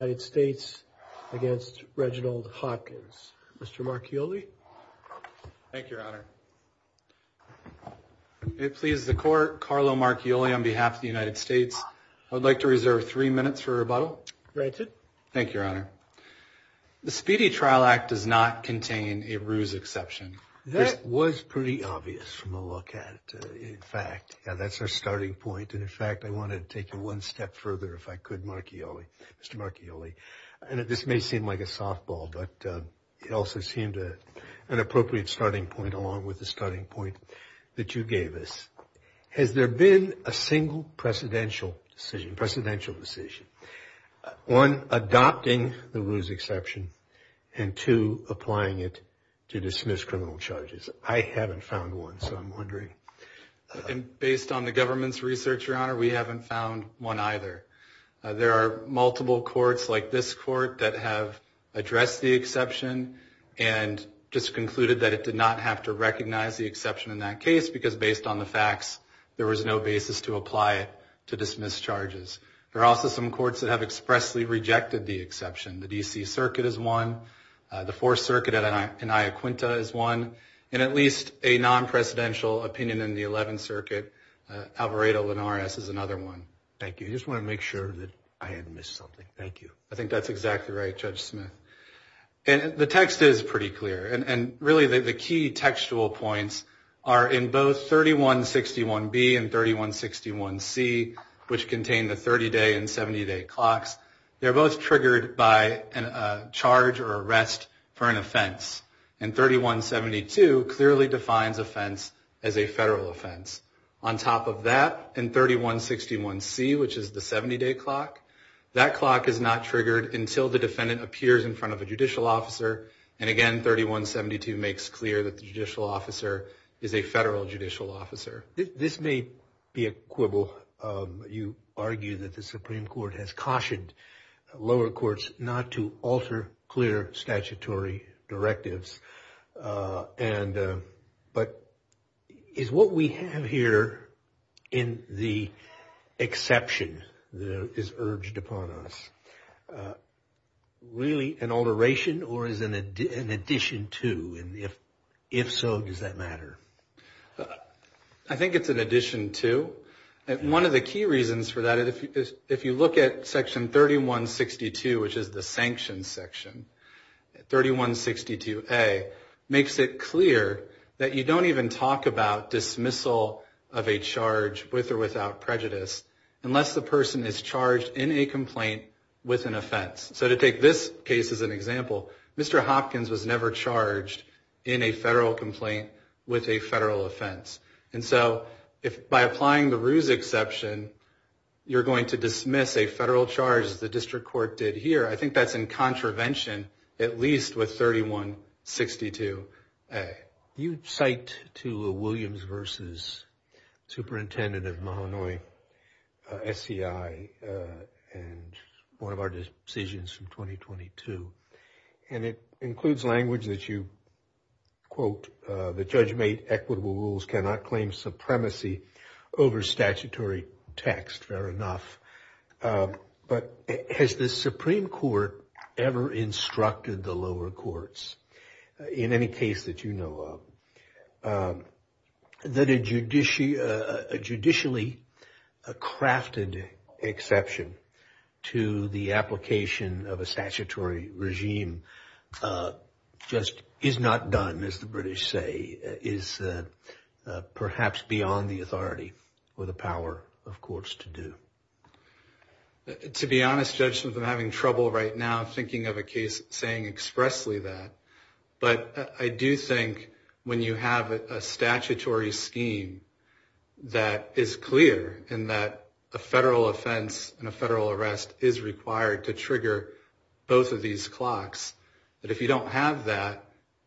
United States against Reginald Hopkins. Mr. Marchioli. Thank you, Your Honor. It pleases the court, Carlo Marchioli on behalf of the United States. I would like to reserve three minutes for rebuttal. Granted. Thank you, Your Honor. The Speedy Trial Act does not contain a ruse exception. That was pretty obvious from the look at it. In fact, yeah, that's our starting point. And in fact, I wanted to take you one step further if I could, Mr. Marchioli. And this may seem like a softball, but it also seemed an appropriate starting point along with the starting point that you gave us. Has there been a single precedential decision, one adopting the ruse exception and two applying it to dismiss criminal charges? I haven't found one, so I'm wondering. And based on the government's research, Your Honor, we haven't found one either. There are multiple courts like this court that have addressed the exception and just concluded that it did not have to recognize the exception in that case because based on the facts, there was no basis to apply it to dismiss charges. There are also some courts that have expressly rejected the exception. The D.C. Circuit is one. The Fourth Circuit in Iaquinta is one. And at least a non-precedential opinion in the Eleventh Circuit, Alvarado-Linares is another one. Thank you. I just want to make sure that I hadn't missed something. Thank you. I think that's exactly right, Judge Smith. And the text is pretty clear. And really, the key textual points are in both 3161B and 3161C, which contain the 30-day and 70-day clocks. They're both triggered by a charge or arrest for an offense. And 3172 clearly defines offense as a federal offense. On top of that, in 3161C, which is the 70-day clock, that clock is not triggered until the defendant appears in front of a judicial officer. And again, 3172 makes clear that the judicial officer is a federal judicial officer. This may be a quibble. You argue that the Supreme Court has cautioned lower courts not to alter clear statutory directives. But is what we have here in the exception that is urged upon us really an alteration or is it an addition to? And if so, does that matter? I think it's an addition to. One of the key reasons for that, if you look at 3162, which is the sanctions section, 3162A makes it clear that you don't even talk about dismissal of a charge with or without prejudice unless the person is charged in a complaint with an offense. So to take this case as an example, Mr. Hopkins was never charged in a federal complaint with a charge. The district court did here. I think that's in contravention, at least with 3162A. You cite to a Williams versus superintendent of Mahanoy SCI and one of our decisions from 2022. And it includes language that you quote, the judge made equitable rules cannot claim supremacy over statutory text. Fair enough. But has the Supreme Court ever instructed the lower courts in any case that you know of that a judicially crafted exception to the application of a the power of courts to do? To be honest, Judges, I'm having trouble right now thinking of a case saying expressly that, but I do think when you have a statutory scheme that is clear and that a federal offense and a federal arrest is required to trigger both of these clocks, that if you don't have that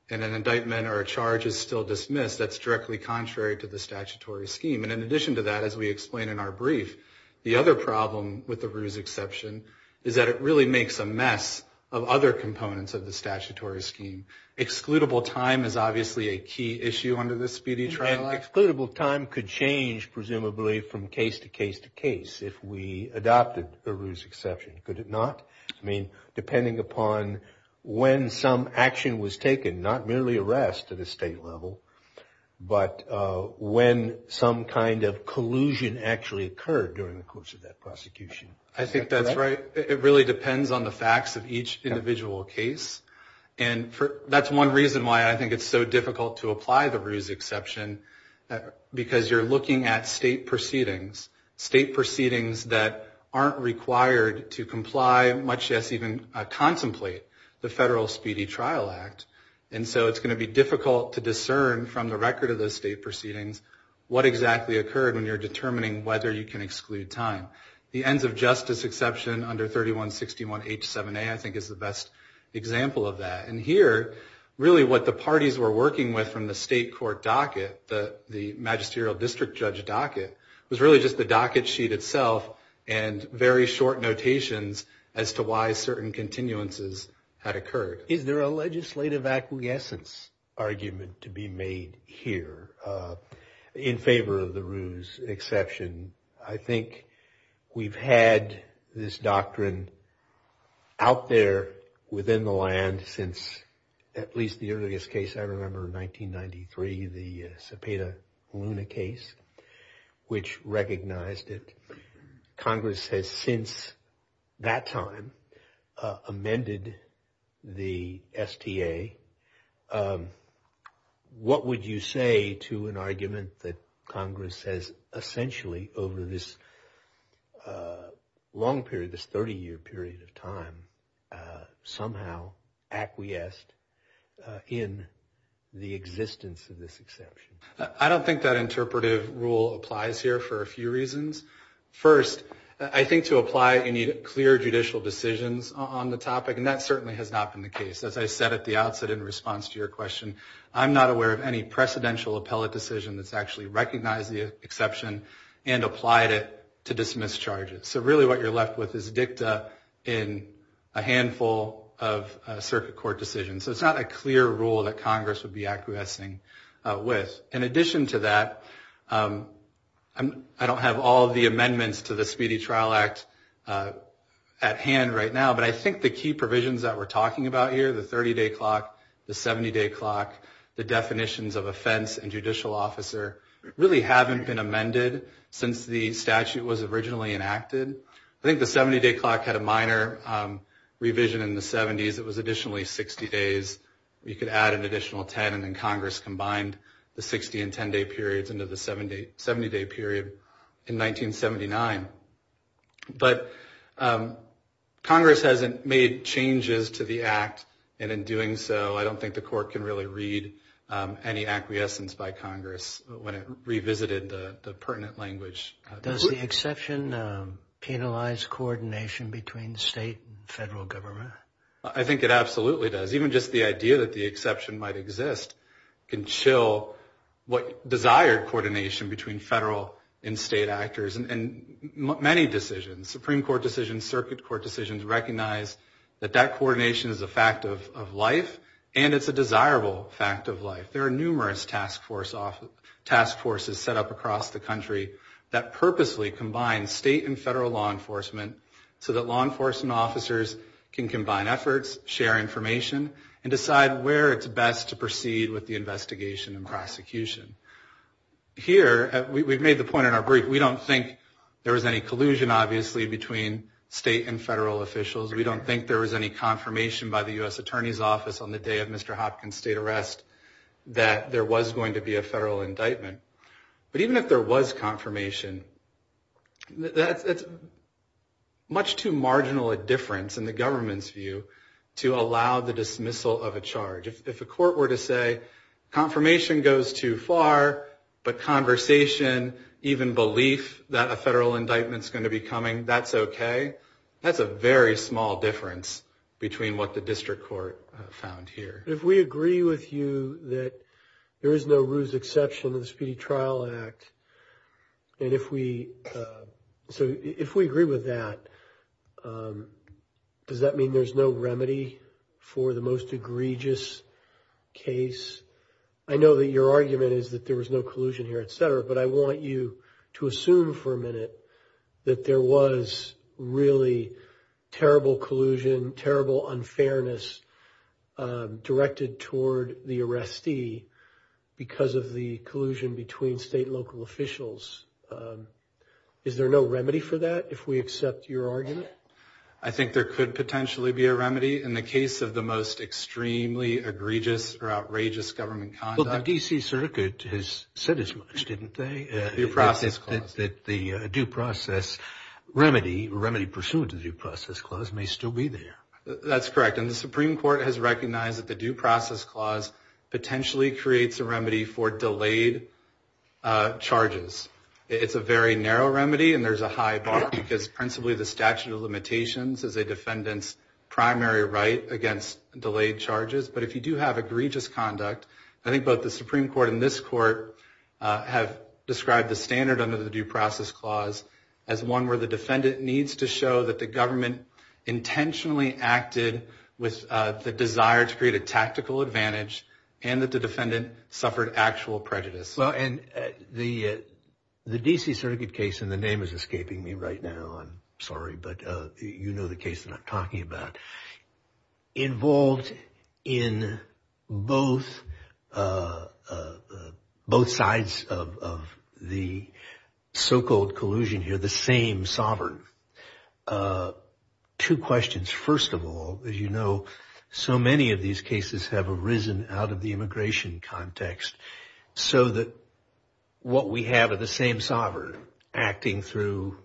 and an indictment or a charge is still dismissed, that's directly contrary to the statutory scheme. And in addition to that, as we explained in our brief, the other problem with the ruse exception is that it really makes a mess of other components of the statutory scheme. Excludable time is obviously a key issue under this speedy trial act. Excludable time could change presumably from case to case to case if we adopted the ruse exception. Could it not? I mean, depending upon when some action was taken, not merely arrest at a state level, but when some kind of collusion actually occurred during the course of that prosecution. I think that's right. It really depends on the facts of each individual case. And that's one reason why I think it's so difficult to apply the ruse exception, because you're looking at state proceedings, state proceedings that aren't required to comply, much less even contemplate the federal speedy trial act. And so it's going to be difficult to discern from the record of those state proceedings what exactly occurred when you're determining whether you can exclude time. The ends of justice exception under 3161H7A, I think, is the best example of that. And here, really what the parties were working with from the state court docket, the magisterial district judge docket, was really just the docket sheet itself and very short notations as to why certain continuances had occurred. Is there a legislative acquiescence argument to be made here in favor of the ruse exception? I think we've had this doctrine out there within the land since at least the earliest case I remember in 1993, the Cepeda Luna case, which recognized it. Congress has since that time amended the STA. What would you say to an argument that Congress has essentially over this long period, this 30-year period of time, somehow acquiesced in the existence of this exception? I don't think that interpretive rule applies here for a few reasons. First, I think to apply it, you need clear judicial decisions on the topic. And that certainly has not been the case. As I said at the outset in response to your question, I'm not aware of any precedential appellate decision that's actually recognized the exception and applied it to dismiss charges. So really what you're left with is dicta in a handful of circuit court decisions. So it's not a clear rule that Congress would be acquiescing with. In addition to that, I don't have all of the amendments to the Speedy Trial Act at hand right now. But I think the key provisions that we're talking about here, the 30-day clock, the 70-day clock, the definitions of offense and judicial officer, really haven't been amended since the statute was originally enacted. I think the 70-day clock had a minor revision in the 70s. It was additionally 60 days. You could add an additional 10. And then Congress combined the 60- and 10-day periods into the 70-day period in 1979. But Congress hasn't made changes to the act. And in doing so, I don't think the court can really read any acquiescence by Congress when it revisited the pertinent language. Does the exception penalize coordination between state and federal government? I think it absolutely does. Even just the idea that the exception might exist can chill what desired coordination between federal and state actors. And many decisions, Supreme Court decisions, circuit court decisions, recognize that that coordination is a fact of life and it's a desirable fact of life. There are numerous task forces set up across the country that purposely combine state and federal law enforcement so that law enforcement officers can combine efforts, share information, and decide where it's best to proceed with the investigation and prosecution. Here, we've made the point in our brief, we don't think there was any collusion, obviously, between state and federal officials. We don't think there was any confirmation by the U.S. Attorney's Office on the day of Mr. Hopkins' state arrest that there was going to be a federal indictment. But even if there was confirmation, that's much too marginal a difference in the government's view to allow the dismissal of a charge. If a court were to say, confirmation goes too far, but conversation, even belief that a federal indictment's going to be coming, that's okay, that's a very small difference between what the district court found here. If we agree with you that there is no ruse exception in the Speedy Trial Act, and if we, so if we agree with that, does that mean there's no remedy for the most egregious case? I know that your argument is that there was no collusion here, etc., but I want you to assume for a minute that there was really terrible collusion, terrible unfairness directed toward the arrestee because of the collusion between state and local officials. Is there no remedy for that, if we accept your argument? I think there could potentially be a remedy in the case of the most extremely egregious or outrageous government conduct. Well, the D.C. Circuit has said as much, didn't they? Due process clause. That the due process remedy, remedy pursuant to due process clause may still be there. That's correct, and the Supreme Court has recognized that the due process clause potentially creates a remedy for delayed charges. It's a very narrow remedy, and there's a high bar because principally the statute of limitations is a defendant's primary right against delayed charges, but if you do have egregious conduct, I think both the Supreme Court and this Court have described the standard under the due process clause as one where the defendant needs to show that the government intentionally acted with the desire to create a tactical advantage and that the defendant suffered actual prejudice. Well, and the D.C. Circuit case, and the name is escaping me right now, I'm sorry, but you know the case that I'm solving, two questions. First of all, as you know, so many of these cases have arisen out of the immigration context, so that what we have of the same sovereign acting through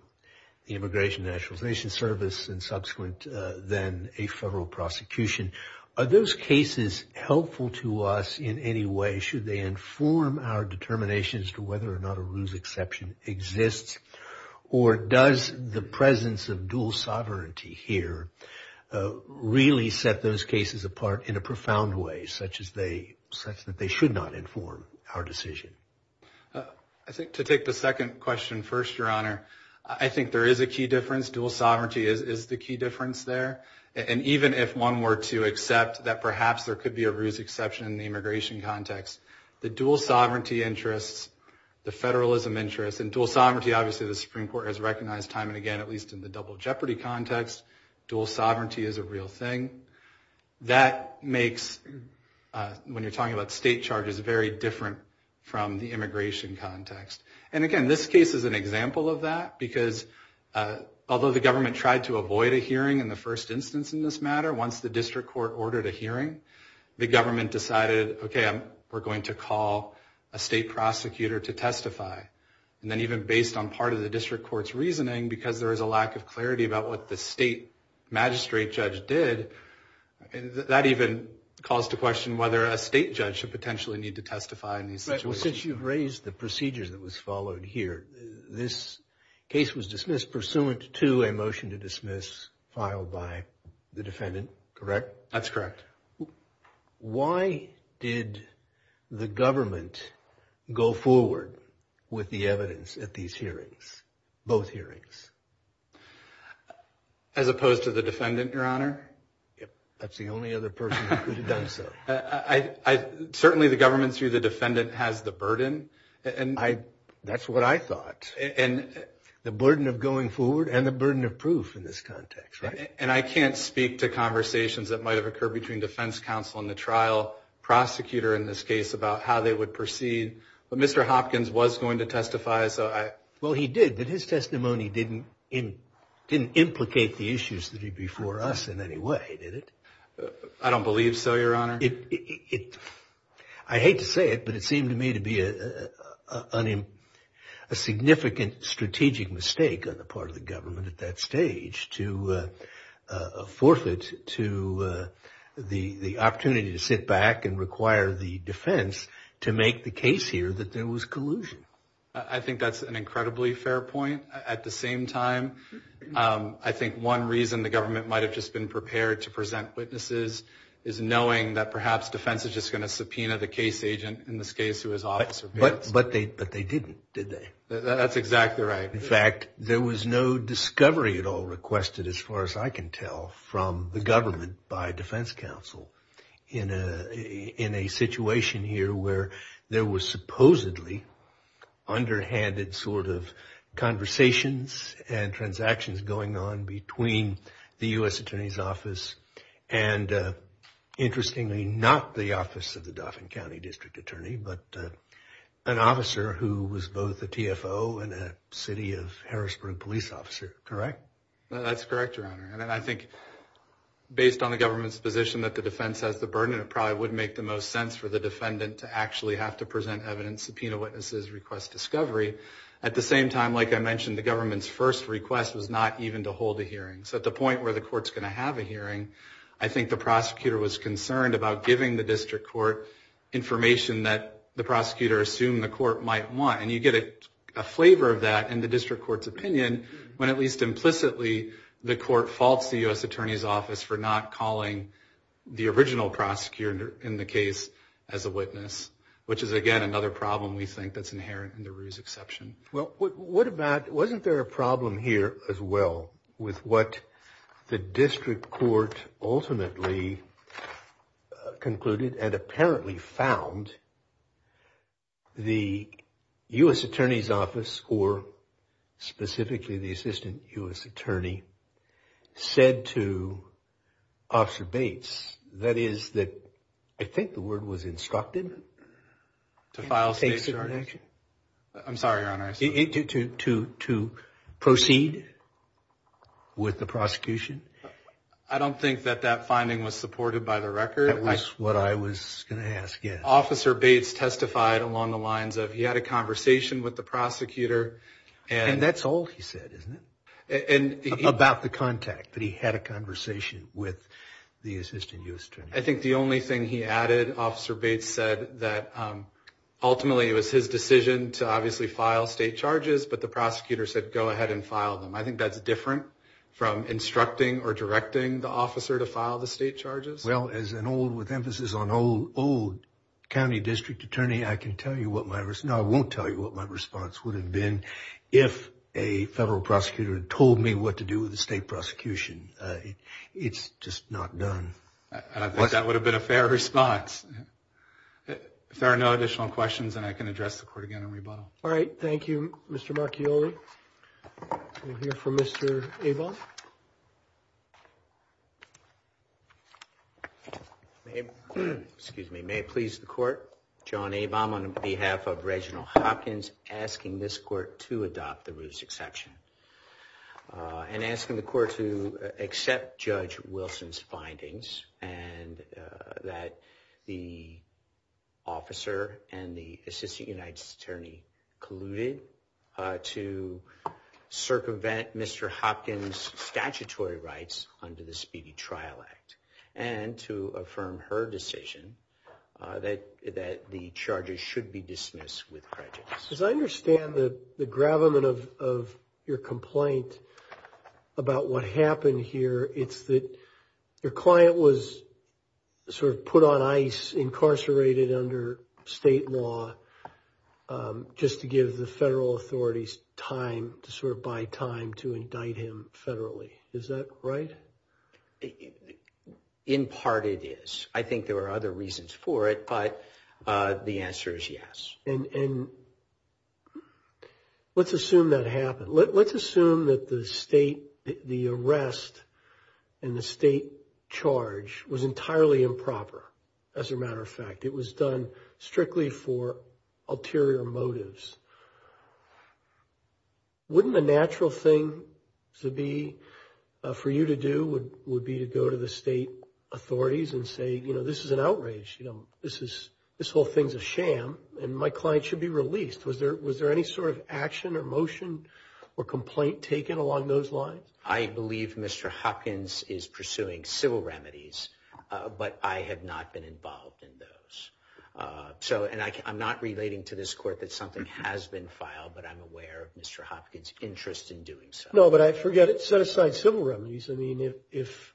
the Immigration Nationalization Service and subsequent then a federal prosecution. Are those cases helpful to us in any way? Should they inform our determinations to whether or not a ruse exception exists, or does the presence of dual sovereignty here really set those cases apart in a profound way such that they should not inform our decision? I think to take the second question first, Your Honor, I think there is a key difference. Dual sovereignty is the key difference there, and even if one were to accept that perhaps there could be a ruse exception in the immigration context, the dual sovereignty interests, the federalism interests, and dual sovereignty, obviously, the Supreme Court has recognized time and again, at least in the double jeopardy context, dual sovereignty is a real thing. That makes, when you're talking about state charges, very different from the immigration context. And again, this case is an example of that, because although the government tried to avoid a hearing in the first instance in this matter, once the we're going to call a state prosecutor to testify, and then even based on part of the district court's reasoning, because there is a lack of clarity about what the state magistrate judge did, that even calls to question whether a state judge should potentially need to testify in these situations. But since you've raised the procedures that was followed here, this case was dismissed pursuant to a motion to dismiss filed by the defendant, correct? That's correct. Why did the government go forward with the evidence at these hearings, both hearings? As opposed to the defendant, Your Honor? That's the only other person who could have done so. Certainly, the government, through the defendant, has the burden. That's what I thought. The burden of going forward and the burden of proof in this context, and I can't speak to conversations that might have occurred between defense counsel and the trial prosecutor in this case about how they would proceed, but Mr. Hopkins was going to testify, so I... Well, he did, but his testimony didn't implicate the issues that are before us in any way, did it? I don't believe so, Your Honor. I hate to say it, but it seemed to me to be a significant strategic mistake on the part of the government at that stage to forfeit to the opportunity to sit back and require the defense to make the case here that there was collusion. I think that's an incredibly fair point. At the same time, I think one reason the government might have just been prepared to present witnesses is knowing that perhaps defense is just going to subpoena the case agent, in this case, who is Officer Bates. But they didn't, did they? That's exactly right. In fact, there was no discovery at all requested, as far as I can tell, from the government by defense counsel in a situation here where there was supposedly underhanded sort of conversations and transactions going on between the U.S. Attorney's Office and, interestingly, not the Office of the Dauphin County District Attorney, but an officer who was both a TFO and a city of Harrisburg police officer, correct? That's correct, Your Honor. And I think based on the government's position that the defense has the burden, it probably would make the most sense for the defendant to actually have to present evidence, subpoena witnesses, request discovery. At the same time, like I mentioned, the government's first request was not even to hold a hearing. So at the point where the court's going to have a hearing, the prosecutor was concerned about giving the district court information that the prosecutor assumed the court might want. And you get a flavor of that in the district court's opinion, when at least implicitly, the court faults the U.S. Attorney's Office for not calling the original prosecutor in the case as a witness, which is, again, another problem we think that's inherent in the Ruse exception. Well, what about, wasn't there a problem here, as well, with what the jury concluded and apparently found the U.S. Attorney's Office, or specifically the Assistant U.S. Attorney, said to Officer Bates, that is, that I think the word was instructed? To file state charges. I'm sorry, Your Honor. To proceed with the prosecution? I don't think that that finding was supported by the record. That was what I was going to ask, yes. Officer Bates testified along the lines of, he had a conversation with the prosecutor. And that's all he said, isn't it? About the contact, that he had a conversation with the Assistant U.S. Attorney. I think the only thing he added, Officer Bates said, that ultimately it was his decision to obviously file state charges, but the prosecutor said, go ahead and file them. I think that's different from instructing or directing the officer to file the state charges. Well, as an old, with emphasis on old, old county district attorney, I can tell you what my response, no, I won't tell you what my response would have been if a federal prosecutor told me what to do with the state prosecution. It's just not done. I think that would have been a fair response. If there are no additional questions, then I can address the court again All right, thank you, Mr. Marchioli. We'll hear from Mr. Avom. Excuse me, may it please the court, John Avom on behalf of Reginald Hopkins, asking this court to adopt the Ruth's exception, and asking the court to accept Judge Wilson's findings, and that the and the Assistant United States Attorney colluded to circumvent Mr. Hopkins' statutory rights under the Speedy Trial Act, and to affirm her decision that the charges should be dismissed with prejudice. As I understand the gravamen of your complaint about what happened here, it's that your client was sort of put on ice, incarcerated under state law, just to give the federal authorities time, to sort of buy time to indict him federally. Is that right? In part it is. I think there are other reasons for it, but the answer is yes. And let's assume that happened. Let's assume that the state, the arrest and the state charge was entirely improper. As a matter of fact, it was done strictly for ulterior motives. Wouldn't the natural thing to be, for you to do, would be to go to the state authorities and say, this is an outrage. This whole thing's a sham, and my client should be released. Was there any sort of action or motion or complaint taken along those lines? I believe Mr. Hopkins is pursuing civil remedies, but I have not been involved in those. And I'm not relating to this court that something has been filed, but I'm aware of Mr. Hopkins' interest in doing so. But I forget it set aside civil remedies. I mean, if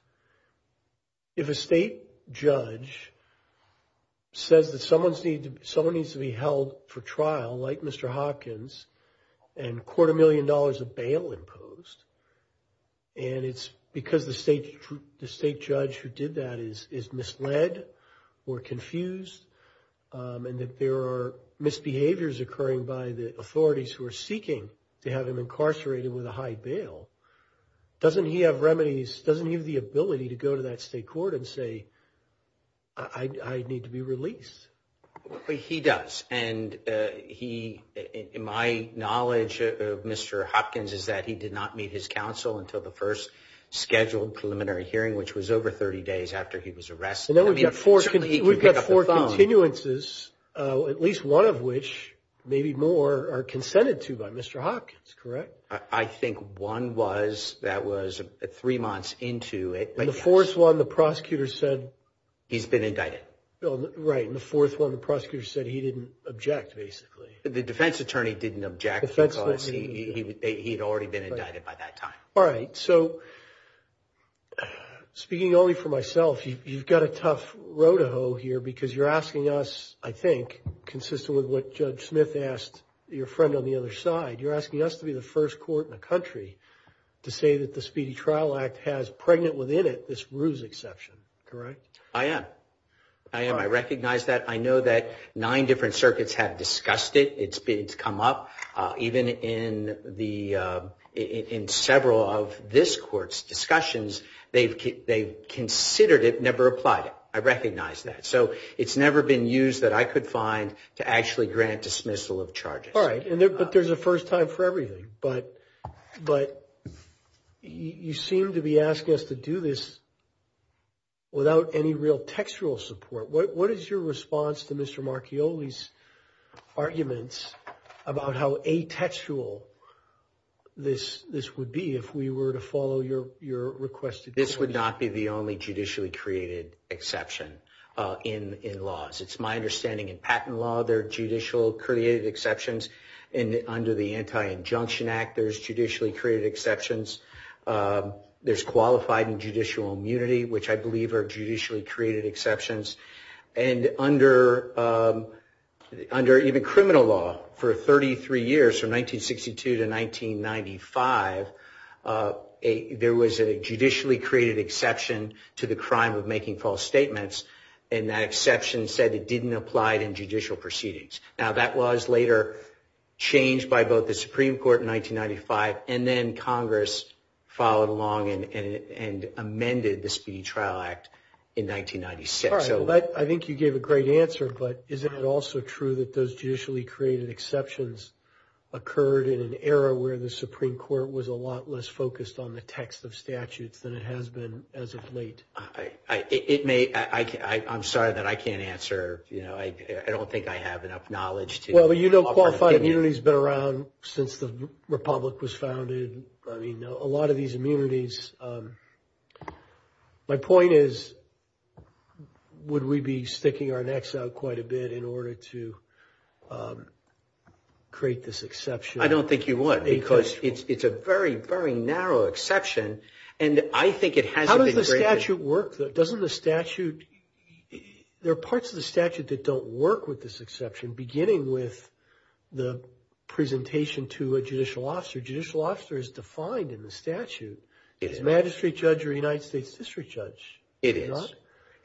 a state judge says that someone needs to be held for trial, like Mr. Hopkins, and quarter million dollars of bail imposed, and it's because the state judge who did that is misled or confused, and that there are misbehaviors occurring by the authorities who are seeking to have him incarcerated with a high bail, doesn't he have remedies? Doesn't he have the ability to go to that state court and say, I need to be released? He does. And my knowledge of Mr. Hopkins is that he did not meet his counsel until the first scheduled preliminary hearing, which was over 30 days after he was maybe more or consented to by Mr. Hopkins, correct? I think one was, that was three months into it. And the fourth one, the prosecutor said... He's been indicted. Right. And the fourth one, the prosecutor said he didn't object, basically. The defense attorney didn't object because he'd already been indicted by that time. All right. So speaking only for myself, you've got a tough road to hoe here because you're asking us, I think, consistent with what Judge Smith asked your friend on the other side, you're asking us to be the first court in the country to say that the Speedy Trial Act has pregnant within it, this ruse exception, correct? I am. I am. I recognize that. I know that nine different circuits have discussed it. It's come up even in several of this court's discussions. They've considered it, never applied it. I could find to actually grant dismissal of charges. All right. But there's a first time for everything. But you seem to be asking us to do this without any real textual support. What is your response to Mr. Marchioli's arguments about how atextual this would be if we were to follow your request? This would not be the only judicially created exception in laws. It's my understanding in patent law, there are judicially created exceptions. And under the Anti-Injunction Act, there's judicially created exceptions. There's qualified and judicial immunity, which I believe are judicially created exceptions. And under even criminal law, for 33 years, from 1962 to 1995, there was a judicially created exception to the crime of making false statements. And that exception said it didn't apply in judicial proceedings. Now, that was later changed by both the Supreme Court in 1995, and then Congress followed along and amended the Speedy Trial Act in 1996. All right. I think you gave a great answer. But isn't it also true that those judicially created exceptions occurred in an era where the Supreme Court was a lot less focused on the text of statutes than it has been as of late? I'm sorry that I can't answer. You know, I don't think I have enough knowledge to- Well, you know qualified immunity has been around since the Republic was founded. I mean, a lot of these immunities... My point is, would we be sticking our necks out quite a bit in order to create this exception? I don't think you would, because it's a very, very narrow exception. And I think it hasn't been- How does the statute work? There are parts of the statute that don't work with this exception, beginning with the presentation to a judicial officer. Judicial officer is defined in the statute as a magistrate judge or a United States district judge. It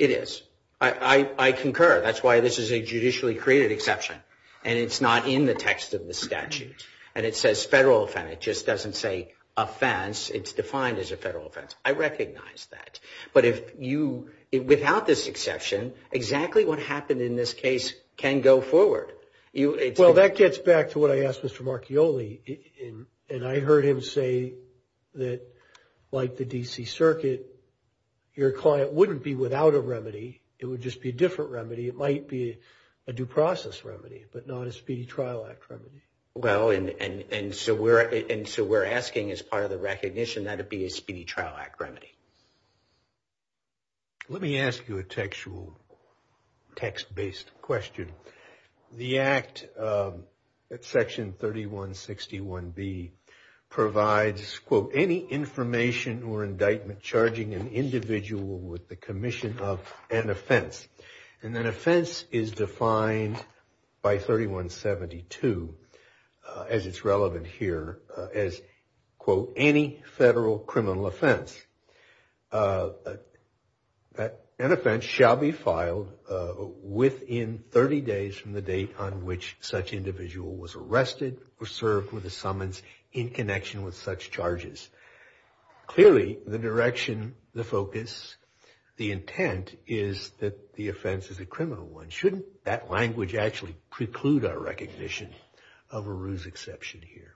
is. I concur. That's why this is a judicially created exception. And it's not in the text of the statute. And it says federal offense. It just doesn't say offense. It's defined as a federal offense. I recognize that. But without this exception, exactly what happened in this case can go forward. Well, that gets back to what I asked Mr. Marchioli. And I heard him say that, like the D.C. Circuit, your client wouldn't be without a remedy. It would just be a different remedy. It might be a due process remedy, but not a Speedy Trial Act remedy. Well, and so we're asking, as part of the recognition, that it be a Speedy Trial Act remedy. Let me ask you a textual, text-based question. The Act at Section 3161B provides, quote, any information or indictment charging an individual with the commission of an offense. And an offense is defined by 3172, as it's relevant here, as, quote, any federal criminal offense. An offense shall be filed within 30 days from the date on which such individual was arrested or served with a summons in connection with such charges. Clearly, the direction, the focus, the intent is that the offense is a criminal one. Shouldn't that language actually preclude our recognition of a ruse exception here?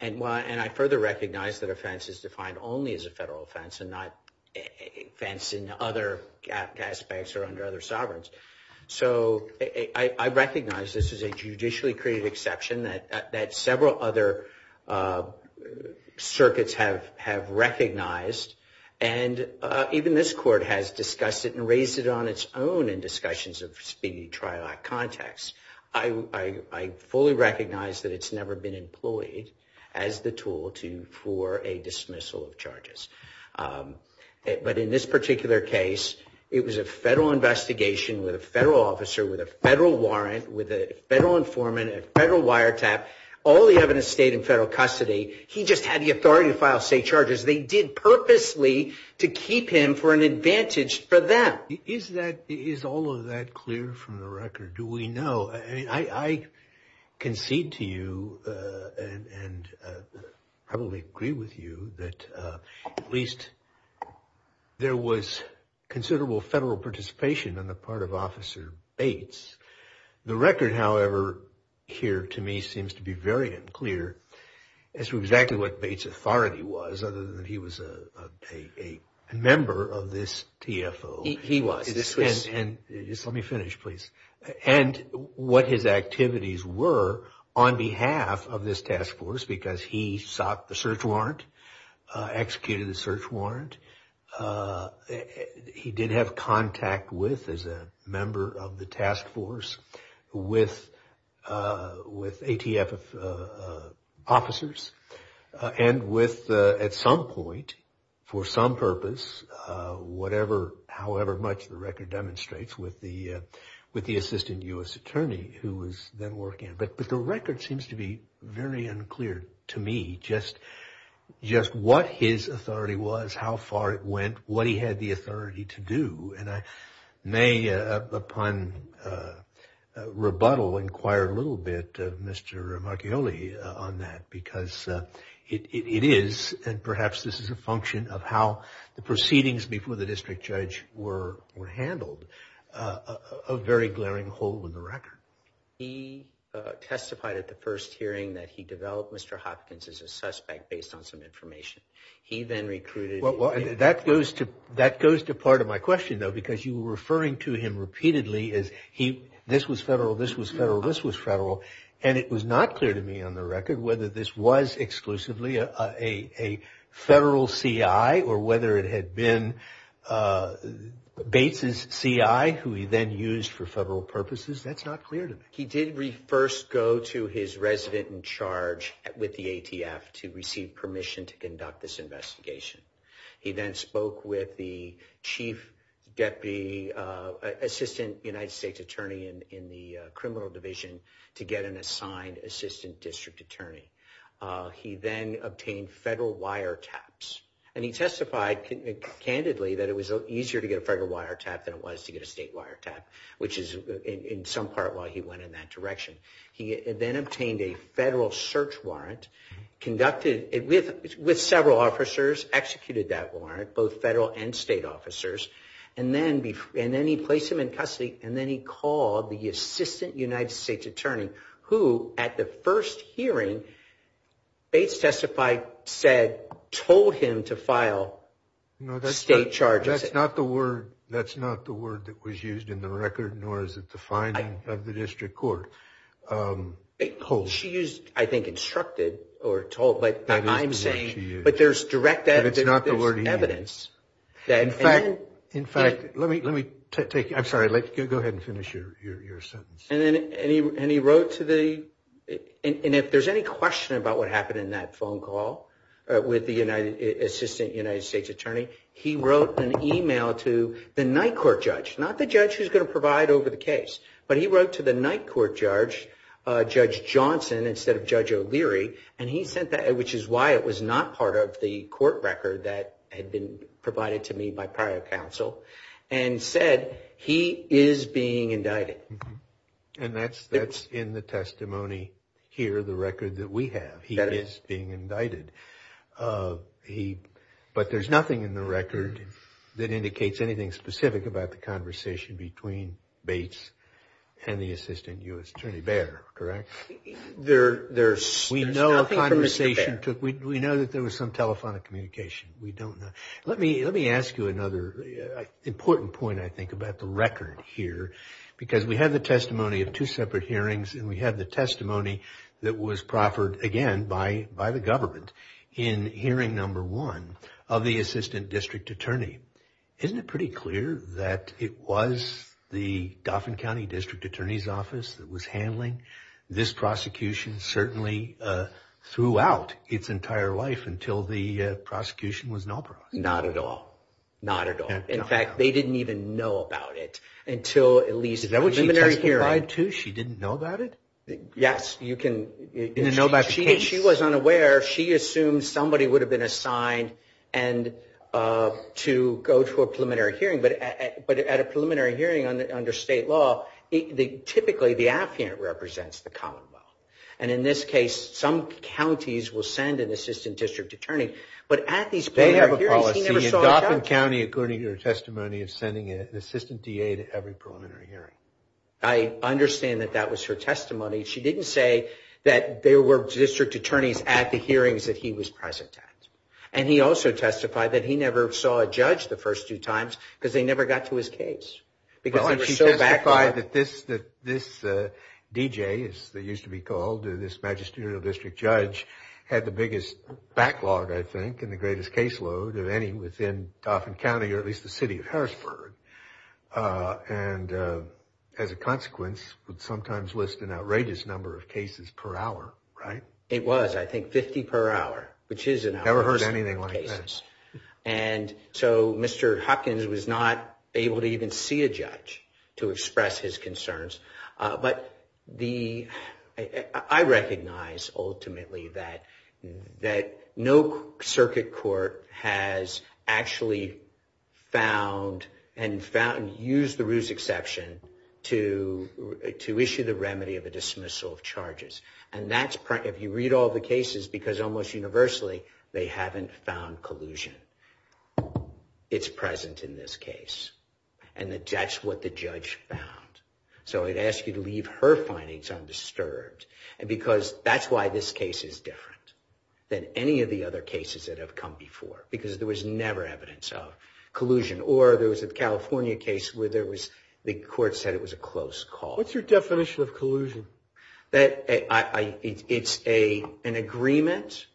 And I further recognize that offense is defined only as a federal offense and not offense in other aspects or under other sovereigns. So I recognize this is a circuits have recognized, and even this court has discussed it and raised it on its own in discussions of Speedy Trial Act context. I fully recognize that it's never been employed as the tool for a dismissal of charges. But in this particular case, it was a federal investigation with a federal officer, with a federal warrant, with a federal informant, a federal wiretap, all the evidence stayed in federal custody. He just had the authority to file state charges. They did purposely to keep him for an advantage for them. Is that, is all of that clear from the record? Do we know? I concede to you and probably agree with you that at least there was considerable federal participation on the part of Officer Bates. The record, however, here to me seems to be very unclear as to exactly what Bates' authority was, other than he was a member of this TFO. He was. Let me finish, please. And what his activities were on behalf of this task force, because he sought the search warrant, executed the search warrant. He did have contact with, as a member of the task force, with ATF officers. And with, at some point, for some purpose, whatever, however much the record demonstrates, with the assistant U.S. attorney who was then working. But the record seems to be very unclear to me just what his authority was, how far it went, what he had the authority to do. And I may, upon rebuttal, inquire a little bit of Mr. Marchioli on that, because it is, and perhaps this is a function of how the proceedings before the district judge were handled, a very glaring hole in the record. He testified at the first hearing that he developed Mr. Hopkins as a suspect based on some information. He then recruited. Well, that goes to part of my question, though, because you were referring to him repeatedly as he, this was federal, this was federal, this was federal. And it was not clear to me on the record whether this was exclusively a federal CI or whether it had been Bates' CI who he then used for federal purposes. That's not clear to me. He did first go to his resident charge with the ATF to receive permission to conduct this investigation. He then spoke with the chief deputy assistant United States attorney in the criminal division to get an assigned assistant district attorney. He then obtained federal wire taps. And he testified candidly that it was easier to get a federal wire tap than it was to get a state wire tap, which is in some part why he went in that direction. He then obtained a federal search warrant, conducted it with several officers, executed that warrant, both federal and state officers. And then he placed him in custody. And then he called the assistant United States attorney who at the first hearing, Bates testified, said, told him to file state charges. That's not the word, that's not the word that was used in the record, nor is it the finding of the district court. She used, I think, instructed or told, but I'm saying, but there's direct evidence. In fact, in fact, let me, let me take, I'm sorry, I'd like to go ahead and finish your, your, your sentence. And then, and he, and he wrote to the, and if there's any question about what happened in that phone call with the United, assistant United States attorney, he wrote an email to the night court judge, not the judge who's going to provide over the case, but he wrote to the night court judge, Judge Johnson, instead of Judge O'Leary. And he sent that, which is why it was not part of the court record that had been provided to me by prior counsel and said, he is being indicted. And that's, that's in the testimony here, the record that we have, he is being indicted. He, but there's nothing in the record that indicates anything specific about the conversation between Bates and the assistant U.S. attorney Bair, correct? There, there's, we know a conversation took, we know that there was some telephonic communication. We don't know. Let me, let me ask you another important point. I think about the record here, because we have the testimony of two separate hearings and we have the testimony that was proffered again by, by the government. In hearing number one of the assistant district attorney, isn't it pretty clear that it was the Dauphin County district attorney's office that was handling this prosecution certainly throughout its entire life until the prosecution was not brought. Not at all. Not at all. In fact, they didn't even know about it until at least. Is that what she testified to? She didn't know about it? Yes, you can. She, she was unaware. She assumed somebody would have been assigned and to go to a preliminary hearing, but at a preliminary hearing under state law, typically the affiant represents the commonwealth. And in this case, some counties will send an assistant district attorney, but at these. They have a policy in Dauphin County, according to her testimony of sending an assistant DA to every preliminary hearing. I understand that that was her testimony. She didn't say that there were district attorneys at the hearings that he was present at. And he also testified that he never saw a judge the first two times because they never got to his case. Because they were so backlogged. That this, that this DJ, as they used to be called, this magisterial district judge, had the biggest backlog, I think, and the greatest caseload of any within Dauphin County, or at least the city of Harrisburg. And as a consequence, would sometimes list an outrageous number of cases per hour, right? It was, I think, 50 per hour, which is- Never heard anything like that. And so Mr. Hopkins was not able to even see a judge to express his concerns. But the, I recognize ultimately that, that no circuit court has actually found and found, used the Roos exception to, to issue the remedy of a dismissal of charges. And that's, if you read all the cases, because almost universally, they haven't found collusion. It's present in this case. And that's what the judge found. So I'd ask you to leave her findings undisturbed. And because that's why this case is different than any of the other cases that have come before. Because there was never evidence of collusion. Or there was a California case where there was, the court said it was a close call. What's your definition of collusion? That I, it's a, an agreement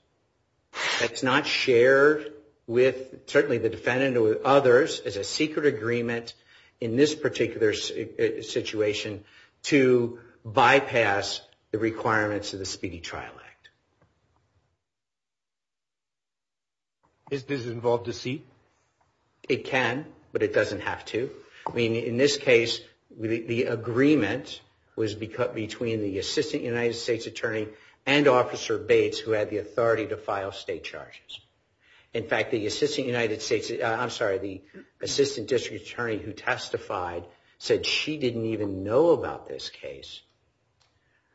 that's not shared with, certainly the defendant or others, is a secret agreement in this particular situation to bypass the requirements of the Speedy Trial Act. Is this involved deceit? It can, but it doesn't have to. I mean, in this case, the agreement was between the Assistant United States Attorney and Officer Bates, who had the authority to file state charges. In fact, the Assistant United States, I'm sorry, the Assistant District Attorney who testified said she didn't even know about this case.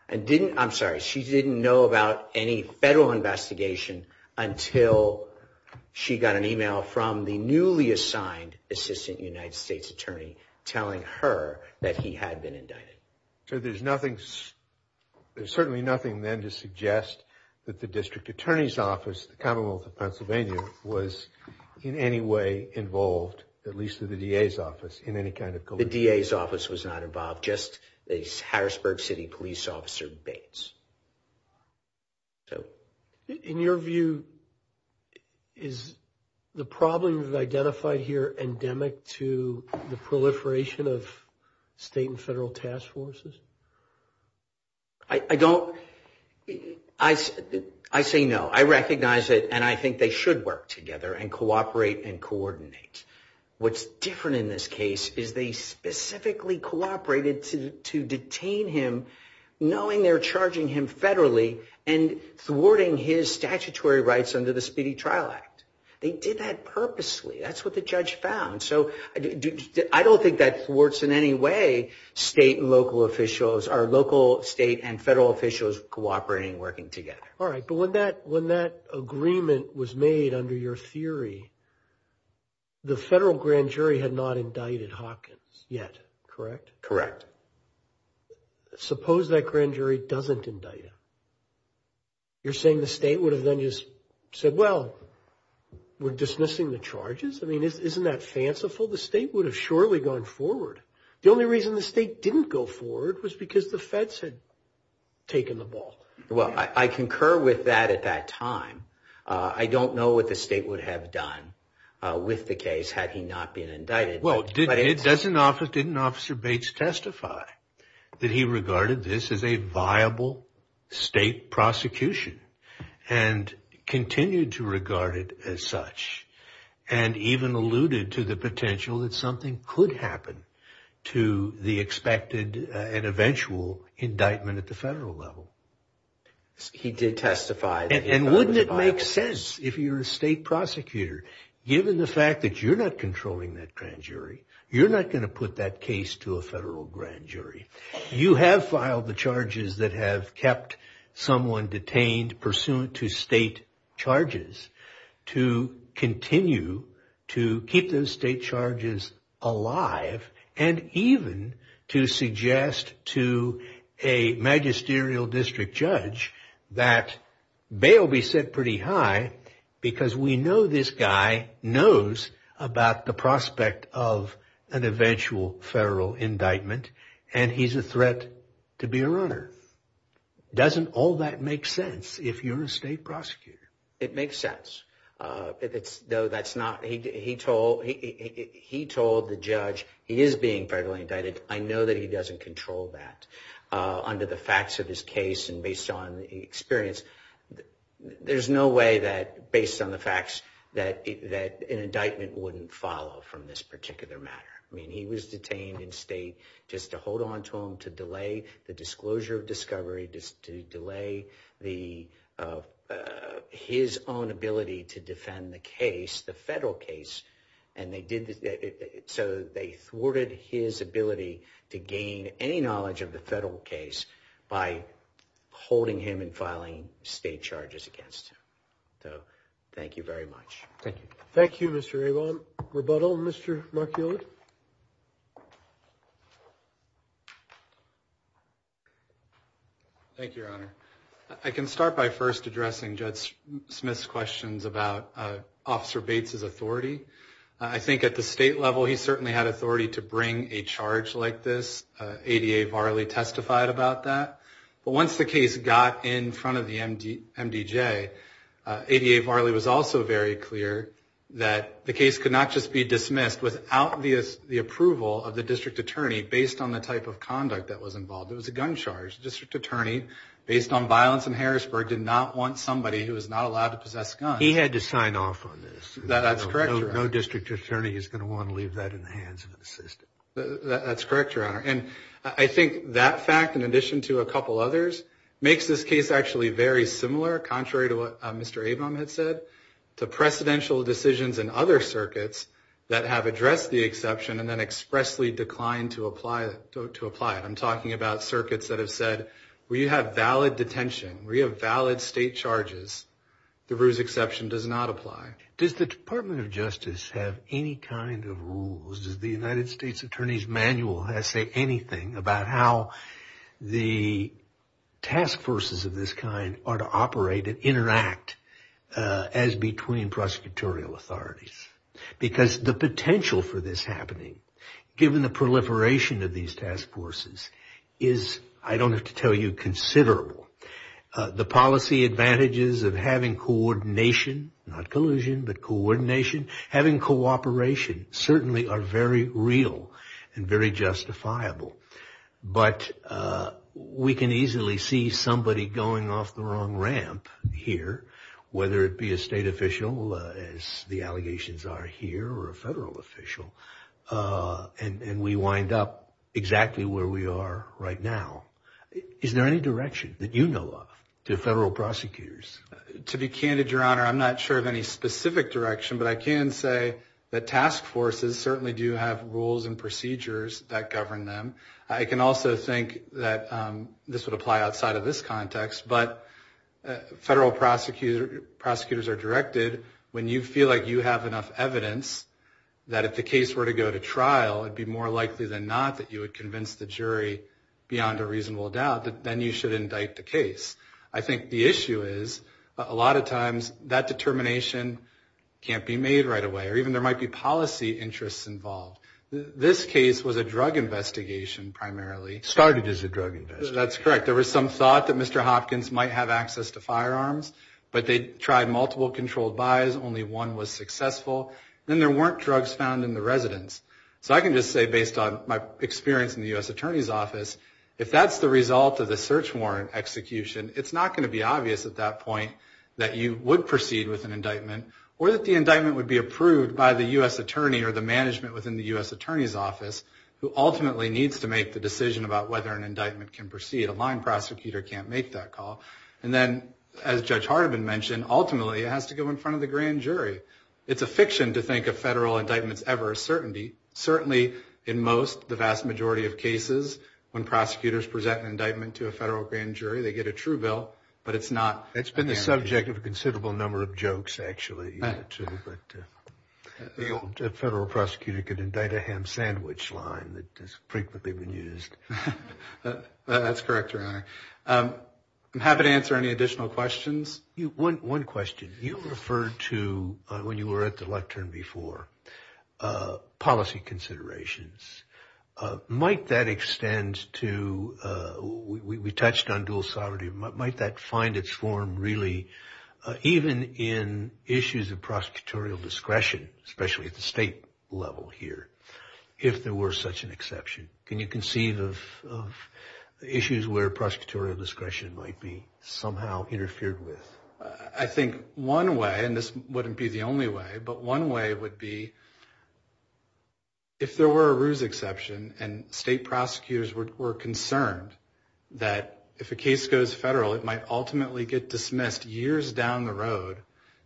And didn't, I'm sorry, she didn't know about any federal investigation until she got an email from the newly assigned Assistant United States Attorney telling her that he had been indicted. So there's nothing, there's certainly nothing then to suggest that the District Attorney's Office, the Commonwealth of Pennsylvania, was in any way involved, at least through the DA's office, in any kind of collusion. The DA's office was not involved, just the Harrisburg City Police Officer Bates. In your view, is the problem you've identified here endemic to the proliferation of federal task forces? I don't, I say no. I recognize it and I think they should work together and cooperate and coordinate. What's different in this case is they specifically cooperated to detain him knowing they're charging him federally and thwarting his statutory rights under the Speedy Trial Act. They did that purposely. That's what the judge found. So I don't think that thwarts in any way state and local officials, our local state and federal officials cooperating and working together. All right. But when that agreement was made under your theory, the federal grand jury had not indicted Hawkins yet, correct? Correct. Suppose that grand jury doesn't indict him. You're saying the state would have then just said, well, we're dismissing the charges? I mean, isn't that fanciful? The state would have surely gone forward. The only reason the state didn't go forward was because the feds had taken the ball. Well, I concur with that at that time. I don't know what the state would have done with the case had he not been indicted. Well, didn't Officer Bates testify that he regarded this as a viable state prosecution and continued to regard it as such and even alluded to the potential that something could happen to the expected and eventual indictment at the federal level? He did testify. And wouldn't it make sense if you're a state prosecutor, given the fact that you're not controlling that grand jury, you're not going to put that case to a federal grand jury. You have filed the charges that have kept someone detained pursuant to state charges to continue to keep those state charges alive and even to suggest to a magisterial district judge that bail be set pretty high because we know this guy knows about the prospect of an eventual federal indictment and he's a threat to be a runner. Doesn't all that make sense if you're a state prosecutor? It makes sense. He told the judge he is being federally indicted. I know that he doesn't control that under the facts of his case and based on the experience. There's no way that based on the facts that an indictment wouldn't follow from this particular matter. He was detained in state just to hold on to him, to delay the disclosure of discovery, to delay his own ability to defend the case, the federal case. So they thwarted his ability to gain any knowledge of the federal case by holding him and filing state charges against him. So thank you very much. Thank you. Thank you, Mr. Avon. Rebuttal, Mr. Markewicz. Thank you, Your Honor. I can start by first addressing Judge Smith's questions about Officer Bates's authority. I think at the state level he certainly had authority to bring a charge like this. ADA Varley testified about that. But once the case got in front of the MDJ, ADA Varley was also very clear that the case could not just be dismissed without the approval of the district attorney based on the type of conduct that was involved. It was a gun charge. The district attorney, based on violence in Harrisburg, did not want somebody who was not allowed to possess guns. He had to sign off on this. That's correct, Your Honor. No district attorney is going to want to leave that in the hands of an assistant. That's correct, Your Honor. And I think that fact, in addition to a couple others, makes this case actually very similar, contrary to what Mr. Avon had said, to precedential decisions in other circuits that have addressed the exception and then expressly declined to apply it. I'm talking about circuits that have said, we have valid detention. We have valid state charges. The Ruse exception does not apply. Does the Department of Justice have any kind of rules? Does the United States Attorney's about how the task forces of this kind are to operate and interact as between prosecutorial authorities? Because the potential for this happening, given the proliferation of these task forces, is, I don't have to tell you, considerable. The policy advantages of having coordination, not collusion, but coordination, having cooperation, certainly are very real and very justifiable. But we can easily see somebody going off the wrong ramp here, whether it be a state official, as the allegations are here, or a federal official, and we wind up exactly where we are right now. Is there any direction that you know of to federal prosecutors? To be candid, Your Honor, I'm not sure of any specific direction, but I can say that task forces certainly do have rules and procedures that govern them. I can also think that this would apply outside of this context, but federal prosecutors are directed when you feel like you have enough evidence that if the case were to go to trial, it'd be more likely than not that you would convince the jury, beyond a reasonable doubt, that then you should termination can't be made right away, or even there might be policy interests involved. This case was a drug investigation, primarily. Started as a drug investigation. That's correct. There was some thought that Mr. Hopkins might have access to firearms, but they tried multiple controlled buys. Only one was successful. Then there weren't drugs found in the residence. So I can just say, based on my experience in the U.S. Attorney's Office, if that's the result of the search warrant execution, it's not going to be obvious at that point that you would proceed with an indictment, or that the indictment would be approved by the U.S. Attorney or the management within the U.S. Attorney's Office, who ultimately needs to make the decision about whether an indictment can proceed. A line prosecutor can't make that call. And then, as Judge Hardiman mentioned, ultimately it has to go in front of the grand jury. It's a fiction to think of federal indictments ever a certainty. Certainly, in most, the vast majority of cases, when prosecutors present an indictment to a federal grand jury, they get a true bill, but it's not. It's been the subject of a considerable number of jokes, actually. A federal prosecutor could indict a ham sandwich line that has frequently been used. That's correct, Your Honor. I'm happy to answer any additional questions. One question. You referred to, when you were at the lectern before, policy considerations. Might that extend to, we touched on dual sovereignty, might that find its form, really, even in issues of prosecutorial discretion, especially at the state level here, if there were such an exception? Can you conceive of issues where prosecutorial discretion might be somehow interfered with? I think one way, and this wouldn't be the only way, but one way would be if there were a ruse exception and state prosecutors were concerned that, if a case goes federal, it might ultimately get dismissed years down the road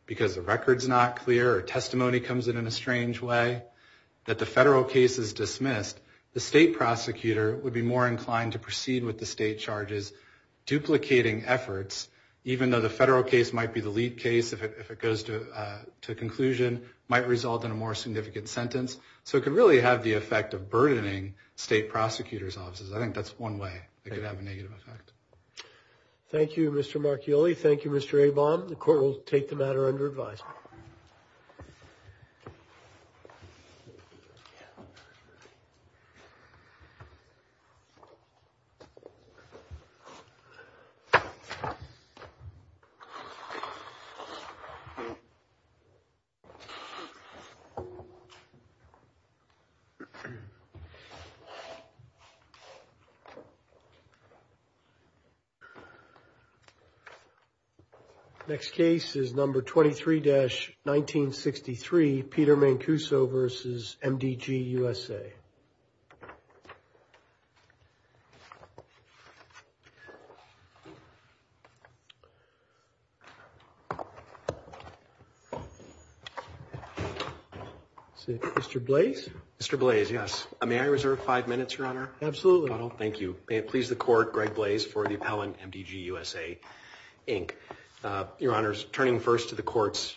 because the record's not clear or testimony comes in in a strange way, that the federal case is dismissed, the state prosecutor would be more inclined to proceed with the state charges, duplicating efforts, even though the federal case might be the lead case, if it goes to conclusion, might result in a more significant sentence. So it could really have the effect of burdening state prosecutors' offices. I think that's one way it could have a negative effect. Thank you, Mr. Marchioli. Thank you, Mr. Abom. The court will take the matter under advisement. The next case is number 23-1963, Peter Mancuso v. MDG, USA. Mr. Blaise? Mr. Blaise, yes. May I reserve five minutes, Your Honor? Absolutely. Thank you. May it please the court, Greg Blaise for the appellant, MDG, USA, Inc. Your Honor,